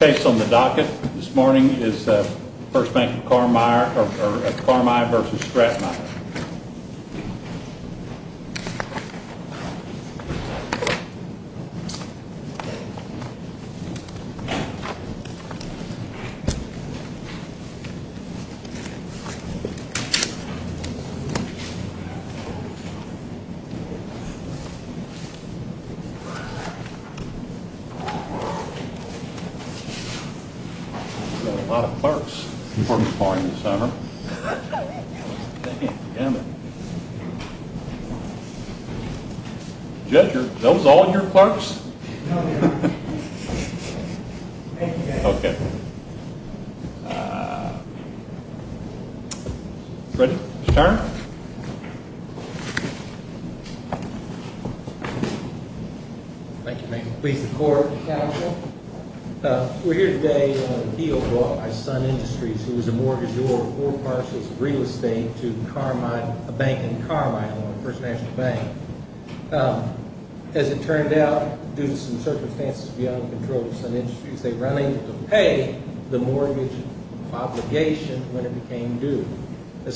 The case on the docket this morning is First Bank of Carmier v. Stratemeyer There are a lot of clerks performing this summer. Judge, are those all your clerks? No, they are not. Ready to turn? We are here today on an appeal brought by Sun Industries, who is a mortgagor of 4 parcels of real estate to a bank in Carmier, First National Bank. As it turned out, due to some circumstances beyond the control of Sun Industries, they were unable to pay the mortgage obligation when it became due. A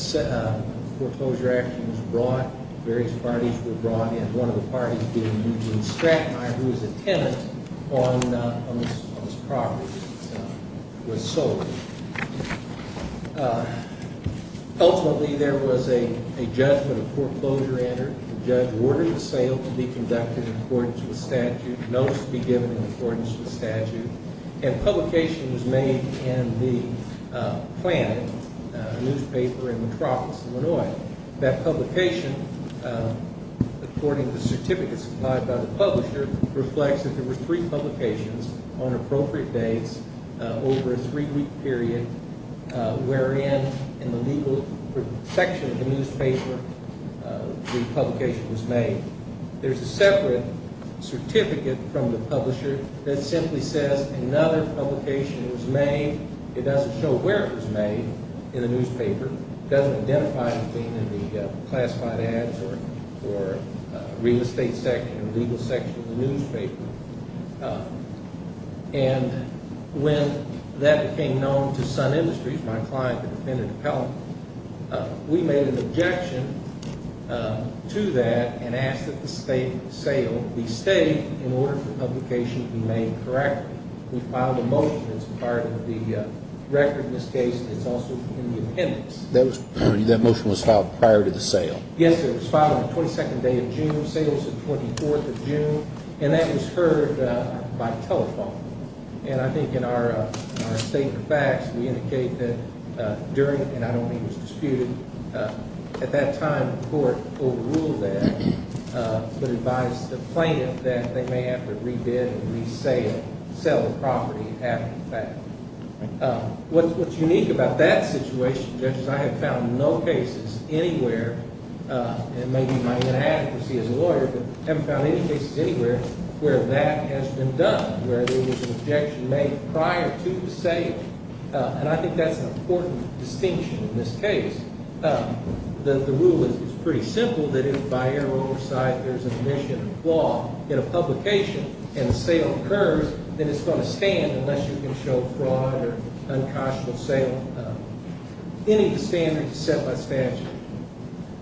foreclosure action was brought. Various parties were brought in. One of the parties being Eugene Stratemeyer, who is a tenant on this property, was sold. Ultimately, there was a judgment of foreclosure entered. The judge ordered the sale to be conducted in accordance with statute, notice to be given in accordance with statute, and publication was made in the plan, a newspaper in Metropolis, Illinois. That publication, according to the certificate supplied by the publisher, reflects that there were three publications on appropriate dates over a three-week period, wherein in the legal section of the newspaper the publication was made. There is a separate certificate from the publisher that simply says another publication was made. It doesn't show where it was made in the newspaper. It doesn't identify anything in the classified ads or real estate section, legal section of the newspaper. And when that became known to Sun Industries, my client, the defendant appellant, we made an objection to that and asked that the sale be stayed in order for the publication to be made correctly. We filed a motion that's part of the record in this case. It's also in the appendix. That motion was filed prior to the sale? Yes, it was filed on the 22nd day of June, sales the 24th of June, and that was heard by telephone. And I think in our statement of facts, we indicate that during, and I don't think it was disputed, at that time the court overruled that, but advised the plaintiff that they may have to re-bid and re-sale, sell the property after the fact. What's unique about that situation, Judge, is I have found no cases anywhere, and maybe my inadequacy as a lawyer, but I haven't found any cases anywhere where that has been done, where there was an objection made prior to the sale, and I think that's an important distinction in this case. The rule is pretty simple, that if by error or oversight there's an initiative flaw in a publication and a sale occurs, then it's going to stand unless you can show fraud or unconscionable sale. Any standard is set by statute.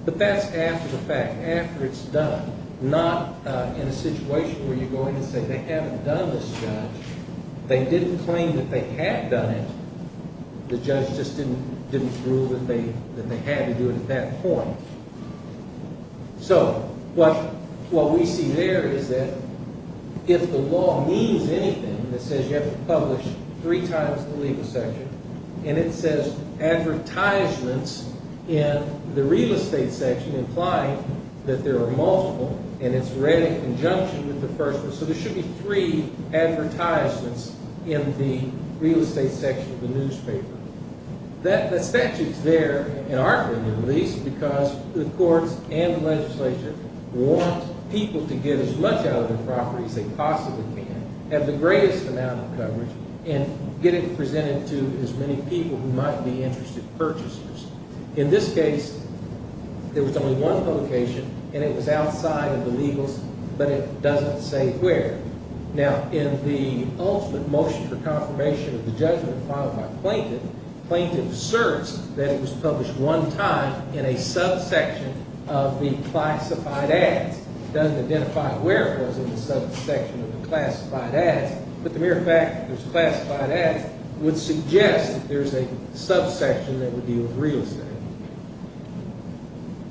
But that's after the fact, after it's done, not in a situation where you're going to say they haven't done this, Judge. They didn't claim that they had done it. The judge just didn't rule that they had to do it at that point. So what we see there is that if the law means anything that says you have to publish three times in the legal section, and it says advertisements in the real estate section, implying that there are multiple, and it's read in conjunction with the first one, so there should be three advertisements in the real estate section of the newspaper. That statute's there and aren't really released because the courts and the legislature want people to get as much out of their property as they possibly can, have the greatest amount of coverage, and get it presented to as many people who might be interested purchasers. In this case, there was only one publication, and it was outside of the legals, but it doesn't say where. Now, in the ultimate motion for confirmation of the judgment filed by plaintiff, plaintiff asserts that it was published one time in a subsection of the classified ads. It doesn't identify where it was in the subsection of the classified ads, but the mere fact that there's classified ads would suggest that there's a subsection that would deal with real estate.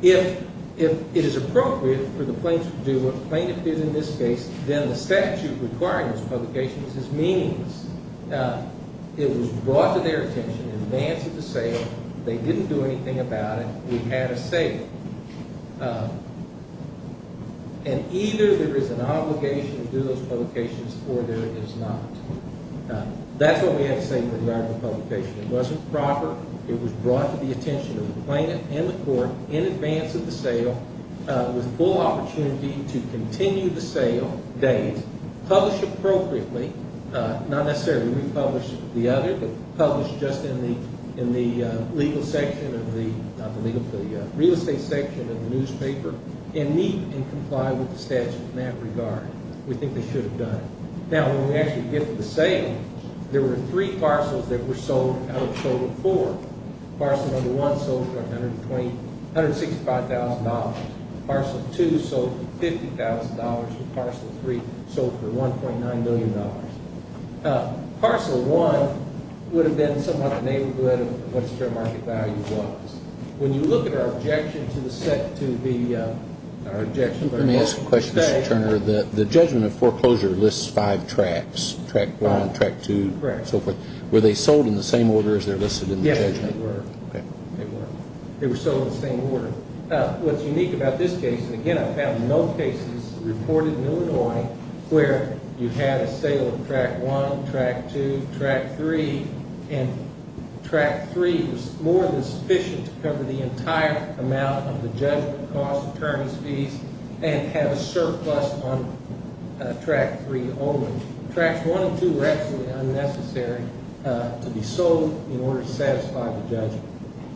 If it is appropriate for the plaintiff to do what the plaintiff did in this case, then the statute requiring those publications is meaningless. Now, it was brought to their attention in advance of the sale. They didn't do anything about it. We had a sale. And either there is an obligation to do those publications or there is not. That's what we had to say in regard to the publication. It wasn't proper. It was brought to the attention of the plaintiff and the court in advance of the sale with full opportunity to continue the sale date, publish appropriately, not necessarily republish the other, just in the legal section of the real estate section of the newspaper, and meet and comply with the statute in that regard. We think they should have done it. Now, when we actually get to the sale, there were three parcels that were sold out of a total of four. Parcel number one sold for $165,000. Parcel two sold for $50,000. And parcel three sold for $1.9 million. Parcel one would have been somewhat the neighborhood of what the fair market value was. When you look at our objection to the set to be our objection. Let me ask a question, Mr. Turner. The judgment of foreclosure lists five tracks, track one, track two, and so forth. Were they sold in the same order as they're listed in the judgment? Yes, they were. They were. They were sold in the same order. What's unique about this case, and, again, I've found no cases reported in Illinois where you had a sale of track one, track two, track three, and track three was more than sufficient to cover the entire amount of the judgment cost, attorneys' fees, and have a surplus on track three only. Tracks one and two were absolutely unnecessary to be sold in order to satisfy the judgment.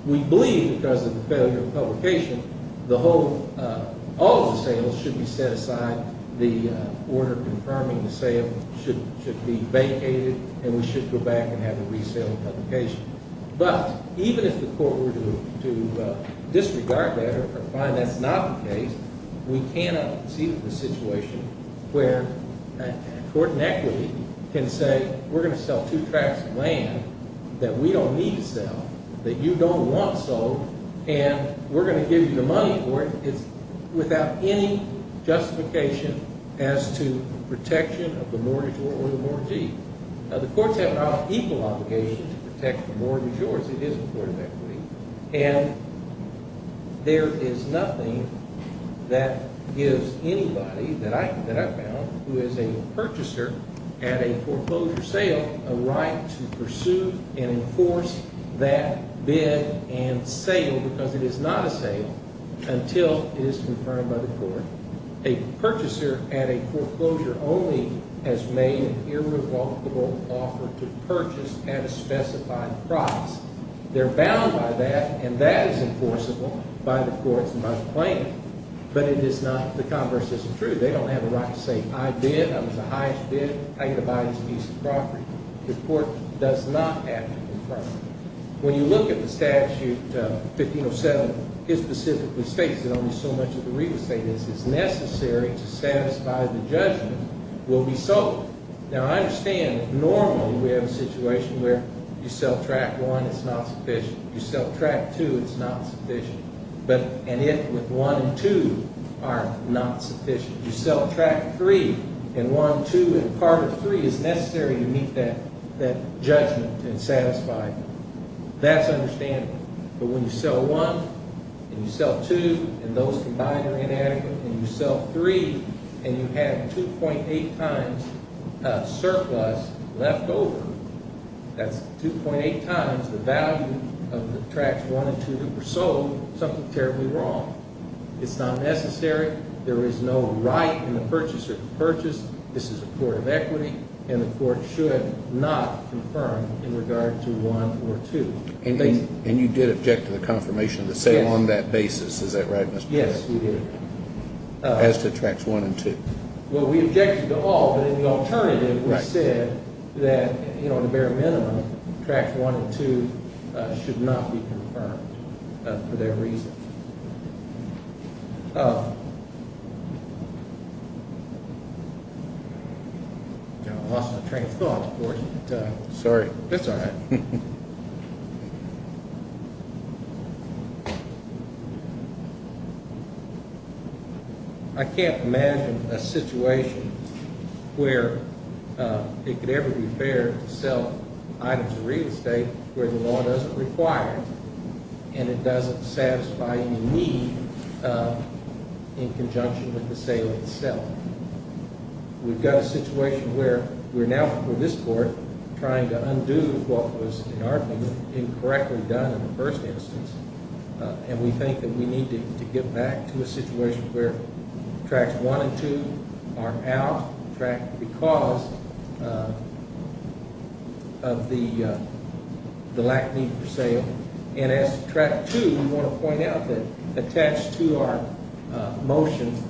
We believe because of the failure of publication, all of the sales should be set aside. The order confirming the sale should be vacated, and we should go back and have the resale of publication. But even if the court were to disregard that or find that's not the case, we cannot concede to the situation where a court in equity can say we're going to sell two tracks of land that we don't need to sell, that you don't want sold, and we're going to give you the money for it without any justification as to protection of the mortgage or the mortgagee. Now, the courts have an equal obligation to protect the mortgageors. It is a court of equity. And there is nothing that gives anybody that I've found who is a purchaser at a foreclosure sale a right to pursue and enforce that bid and sale because it is not a sale until it is confirmed by the court. A purchaser at a foreclosure only has made an irrevocable offer to purchase at a specified price. They're bound by that, and that is enforceable by the courts and by the plaintiff. But the converse isn't true. They don't have a right to say I bid, I was the highest bid, I'm going to buy this piece of property. The court does not have to confirm it. When you look at the statute, 1507, it specifically states that only so much of the real estate is necessary to satisfy the judgment will be sold. Now, I understand normally we have a situation where you sell tract one, it's not sufficient. You sell tract two, it's not sufficient. And if with one and two are not sufficient, you sell tract three, and one, two, and part of three is necessary to meet that judgment and satisfy it. That's understandable. But when you sell one, and you sell two, and those combined are inadequate, and you sell three, and you have 2.8 times surplus left over, that's 2.8 times the value of the tracts one and two that were sold, something terribly wrong. It's not necessary. There is no right in the purchaser to purchase. This is a court of equity, and the court should not confirm in regard to one or two. And you did object to the confirmation of the sale on that basis. Is that right, Mr. President? Yes, we did. As to tracts one and two. Well, we objected to all, but in the alternative we said that, you know, the bare minimum, tracts one and two should not be confirmed for that reason. I lost my train of thought, of course. Sorry. That's all right. Thank you. I can't imagine a situation where it could ever be fair to sell items of real estate where the law doesn't require it, and it doesn't satisfy any need in conjunction with the sale itself. We've got a situation where we're now, for this court, trying to undo what was, in our view, incorrectly done in the first instance, and we think that we need to get back to a situation where tracts one and two are out, tracts because of the lack of need for sale, and as to tract two, we want to point out that attached to our motion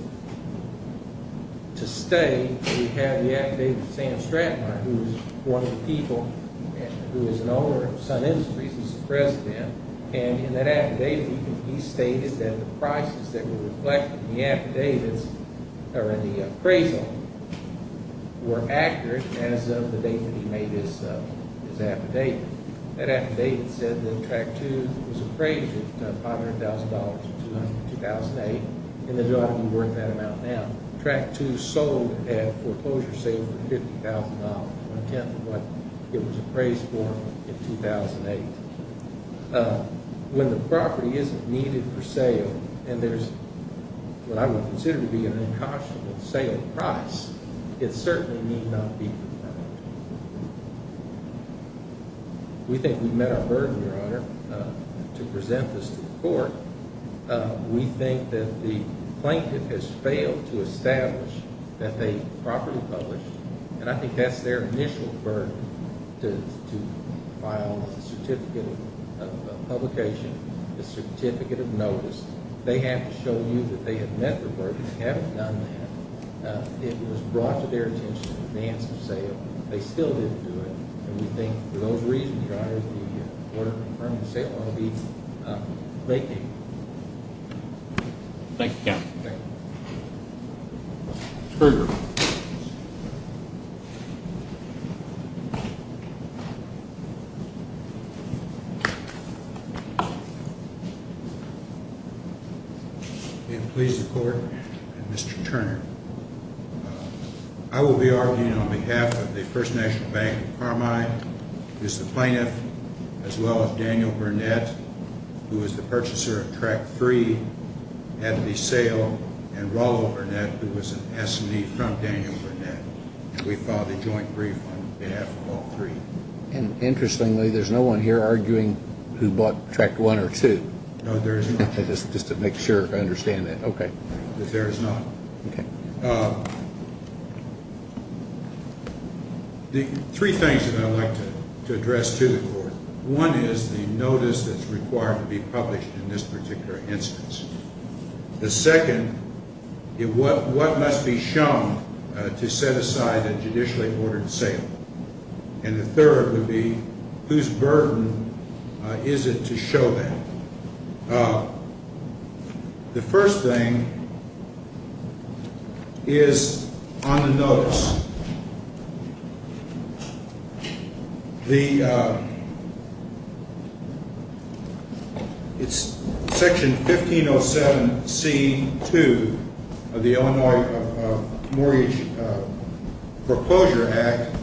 to stay, we have the affidavit of Sam Stratton, who is one of the people who is an owner of Sun Industries as the president, and in that affidavit he stated that the prices that were reflected in the appraisal were accurate as of the date that he made his affidavit. That affidavit said that tract two was appraised at $500,000 in 2008, and it ought to be worth that amount now. Tract two sold at a foreclosure sale for $50,000, one-tenth of what it was appraised for in 2008. When the property isn't needed for sale, and there's what I would consider to be an unconscionable sale price, it certainly need not be for sale. We think we've met our burden, Your Honor, to present this to the court. We think that the plaintiff has failed to establish that they properly published, and I think that's their initial burden to file a certificate of publication, a certificate of notice. They have to show you that they have met their burden. They haven't done that. It was brought to their attention in advance of sale. They still didn't do it, and we think for those reasons, Your Honor, the order confirming the sale ought to be vacated. Thank you, counsel. Thank you. Krueger. May it please the Court. Mr. Turner, I will be arguing on behalf of the First National Bank of Carmine, who is the plaintiff, as well as Daniel Burnett, who is the purchaser of tract three at the sale, and Rollo Burnett, who was an S&E from Daniel Burnett. And we filed a joint brief on behalf of all three. And interestingly, there's no one here arguing who bought tract one or two. No, there is not. Just to make sure I understand that. Okay. There is not. Okay. Three things that I'd like to address to the Court. One is the notice that's required to be published in this particular instance. The second is what must be shown to set aside a judicially ordered sale. And the third would be whose burden is it to show that. The first thing is on the notice. It's Section 1507C2 of the Illinois Mortgage Proposal Act.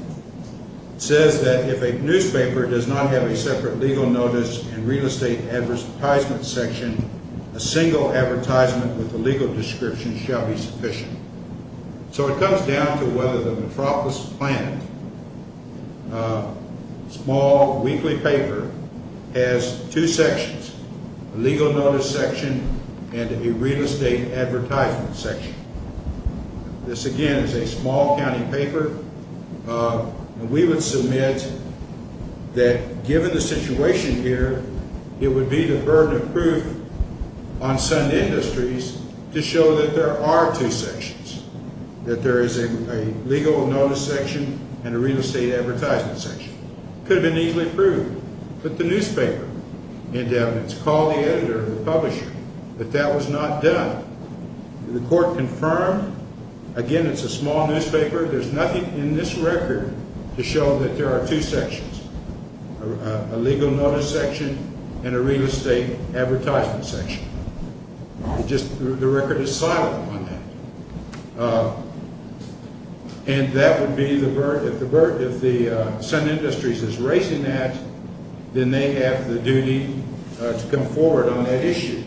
It says that if a newspaper does not have a separate legal notice and real estate advertisement section, a single advertisement with a legal description shall be sufficient. So it comes down to whether the Metropolis Planet small weekly paper has two sections, a legal notice section and a real estate advertisement section. This, again, is a small county paper. And we would submit that given the situation here, it would be the burden of proof on some industries to show that there are two sections, that there is a legal notice section and a real estate advertisement section. Could have been easily approved. Put the newspaper into evidence. Call the editor or the publisher that that was not done. The Court confirmed. Again, it's a small newspaper. There's nothing in this record to show that there are two sections, a legal notice section and a real estate advertisement section. Just the record is silent on that. And that would be the burden. If the Sun Industries is raising that, then they have the duty to come forward on that issue.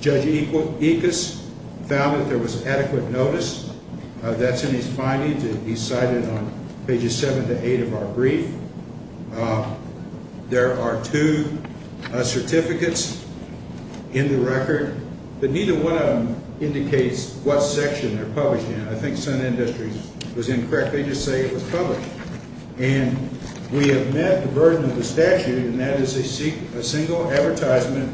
Judge Ickes found that there was adequate notice. That's in his findings. He cited on pages 7 to 8 of our brief. There are two certificates in the record. But neither one of them indicates what section they're published in. I think Sun Industries was incorrect. They just say it was published. And we have met the burden of the statute, and that is a single advertisement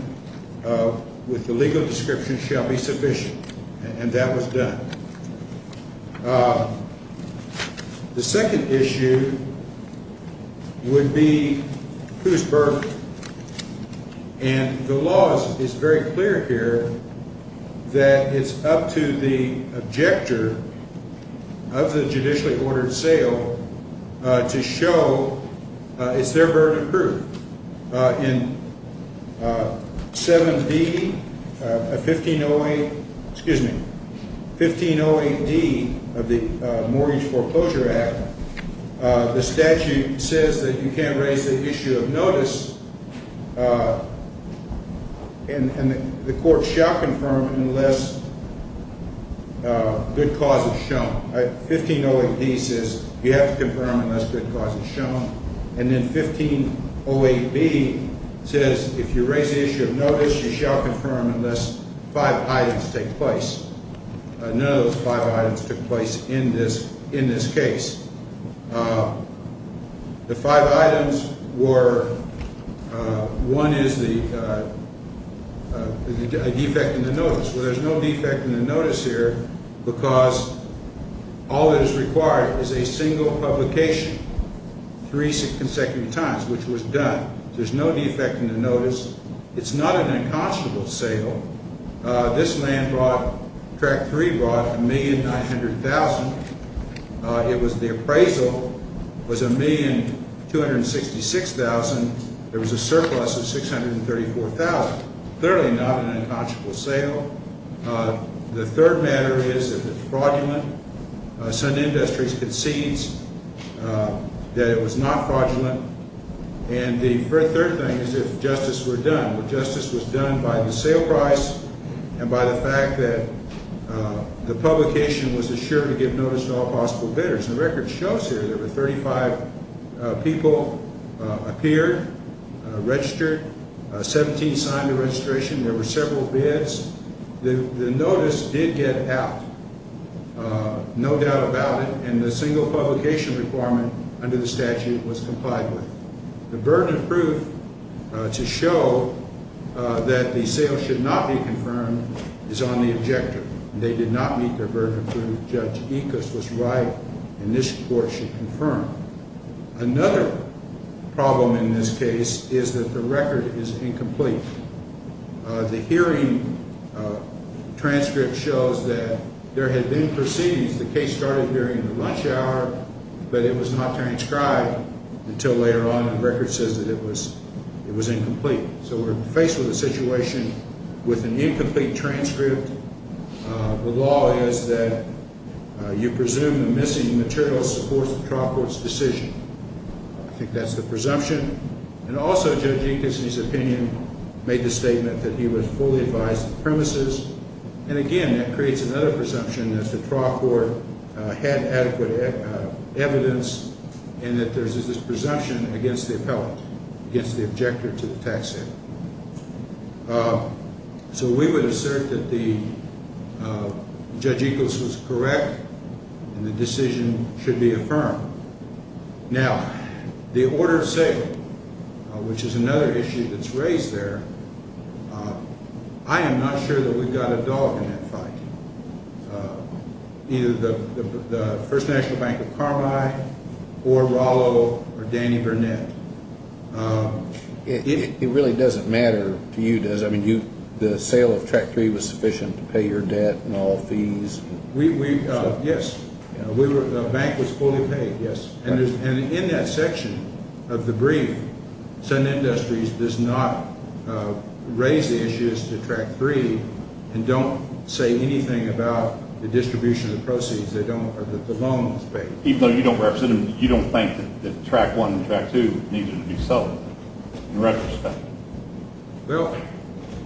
with the legal description shall be sufficient. And that was done. The second issue would be whose burden. And the law is very clear here that it's up to the objector of the judicially ordered sale to show it's their burden of proof. In 7D of 1508, excuse me, 1508D of the Mortgage Foreclosure Act, the statute says that you can't raise the issue of notice, and the court shall confirm unless good cause is shown. 1508D says you have to confirm unless good cause is shown. And then 1508B says if you raise the issue of notice, you shall confirm unless five items take place. None of those five items took place in this case. The five items were one is the defect in the notice. Well, there's no defect in the notice here because all that is required is a single publication three consecutive times, which was done. There's no defect in the notice. It's not an unconscionable sale. This land brought, Track 3 brought $1,900,000. It was the appraisal was $1,266,000. There was a surplus of $634,000. Clearly not an unconscionable sale. The third matter is if it's fraudulent. Sun Industries concedes that it was not fraudulent. And the third thing is if justice were done. Well, justice was done by the sale price and by the fact that the publication was assured to give notice to all possible bidders. The record shows here there were 35 people appeared, registered, 17 signed the registration. There were several bids. The notice did get out, no doubt about it. And the single publication requirement under the statute was complied with. The burden of proof to show that the sale should not be confirmed is on the objector. They did not meet their burden of proof. Judge Ickes was right, and this court should confirm. Another problem in this case is that the record is incomplete. The hearing transcript shows that there had been proceedings. The case started during the lunch hour, but it was not transcribed until later on. The record says that it was incomplete. So we're faced with a situation with an incomplete transcript. The law is that you presume the missing material supports the trial court's decision. I think that's the presumption. And also Judge Ickes, in his opinion, made the statement that he would fully advise the premises. And, again, that creates another presumption that the trial court had adequate evidence and that there's this presumption against the appellant, against the objector to the tax sale. So we would assert that Judge Ickes was correct and the decision should be affirmed. Now, the order of sale, which is another issue that's raised there, I am not sure that we've got a dog in that fight. Either the First National Bank of Carmine or Rallo or Danny Burnett. It really doesn't matter to you, does it? I mean, the sale of Track 3 was sufficient to pay your debt and all fees? Yes. The bank was fully paid, yes. And in that section of the brief, Sudden Industries does not raise the issues to Track 3 and don't say anything about the distribution of proceeds. The loan was paid. Even though you don't represent them, you don't think that Track 1 and Track 2 needed to be sold, in retrospect? Well,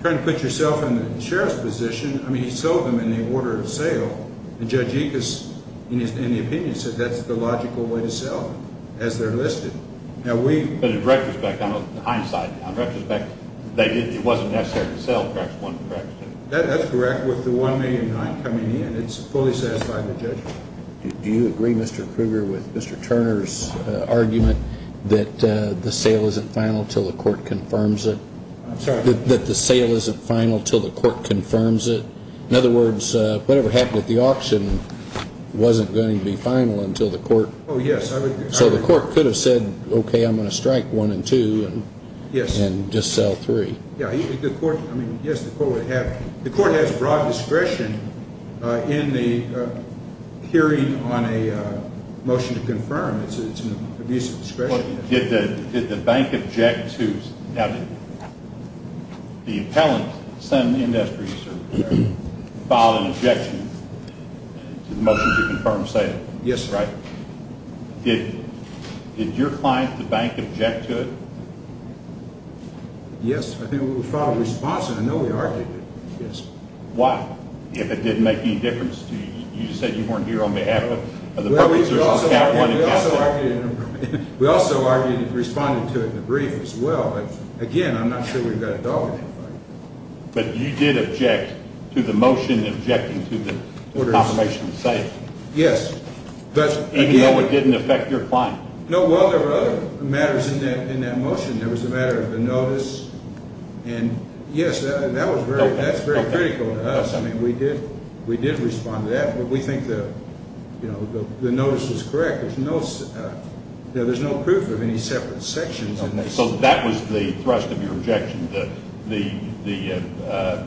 trying to put yourself in the sheriff's position, I mean, he sold them in the order of sale. And Judge Ickes, in his opinion, said that's the logical way to sell them, as they're listed. But in retrospect, in hindsight, in retrospect, it wasn't necessary to sell Track 1 and Track 2. That's correct. With the $1,000,009 coming in, it's fully satisfied the judge. Do you agree, Mr. Krueger, with Mr. Turner's argument that the sale isn't final until the court confirms it? I'm sorry? That the sale isn't final until the court confirms it? In other words, whatever happened at the auction wasn't going to be final until the court? Oh, yes. So the court could have said, okay, I'm going to strike 1 and 2 and just sell 3? Yes. Yes, the court would have – the court has broad discretion in the hearing on a motion to confirm. It's an abuse of discretion. Did the bank object to – now, did the appellant send the industry to file an objection to the motion to confirm sale? Yes. Did your client, the bank, object to it? Yes, I think we filed a response, and I know we argued it, yes. Why? If it didn't make any difference? You said you weren't here on behalf of the public. We also argued it and responded to it in the brief as well, but again, I'm not sure we've got a dog in that fight. But you did object to the motion objecting to the confirmation of sale? Yes. Even though it didn't affect your client? No, well, there were other matters in that motion. There was the matter of the notice, and yes, that's very critical to us. I mean, we did respond to that, but we think the notice was correct. There's no proof of any separate sections. So that was the thrust of your objection, the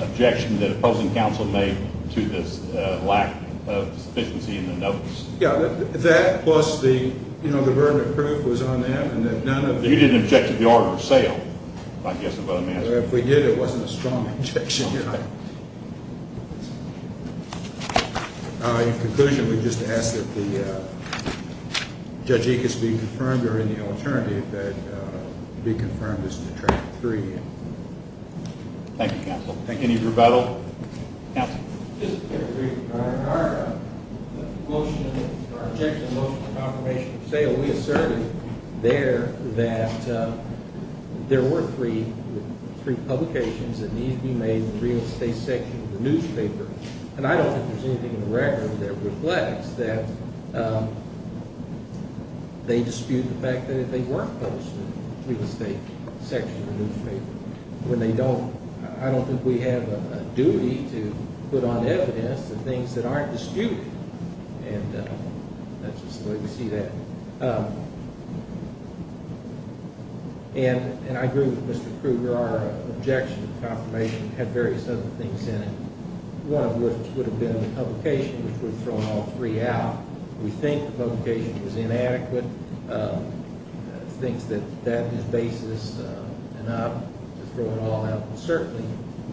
objection that opposing counsel made to this lack of sufficiency in the notice? Yes, that plus the burden of proof was on that. You didn't object to the order of sale? If we did, it wasn't a strong objection. In conclusion, we just ask that Judge Ickes be confirmed or any alternative that be confirmed as to Track 3. Thank you, counsel. Any rebuttal? No. Just a brief comment. Our motion, our objection to the motion of confirmation of sale, we asserted there that there were three publications that need to be made in the real estate section of the newspaper. And I don't think there's anything in the record that reflects that they dispute the fact that they were posted in the real estate section of the newspaper. I don't think we have a duty to put on evidence the things that aren't disputed. And that's just the way we see that. And I agree with Mr. Krueger. Our objection to the confirmation had various other things in it, one of which would have been the publication, which would have thrown all three out. We think the publication was inadequate. I think that that is basis enough to throw it all out. But certainly,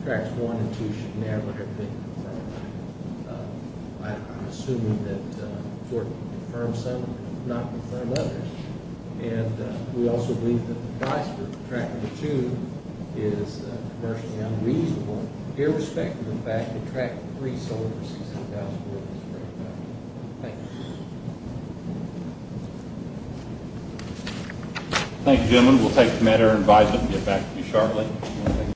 Tracks 1 and 2 should never have been confirmed. I'm assuming that the court confirmed some and did not confirm others. And we also believe that the price for Track 2 is commercially unreasonable, irrespective of the fact that Track 3 sold for $16,400. Thank you. Thank you, gentlemen. We'll take the matter and advise it and get back to you shortly.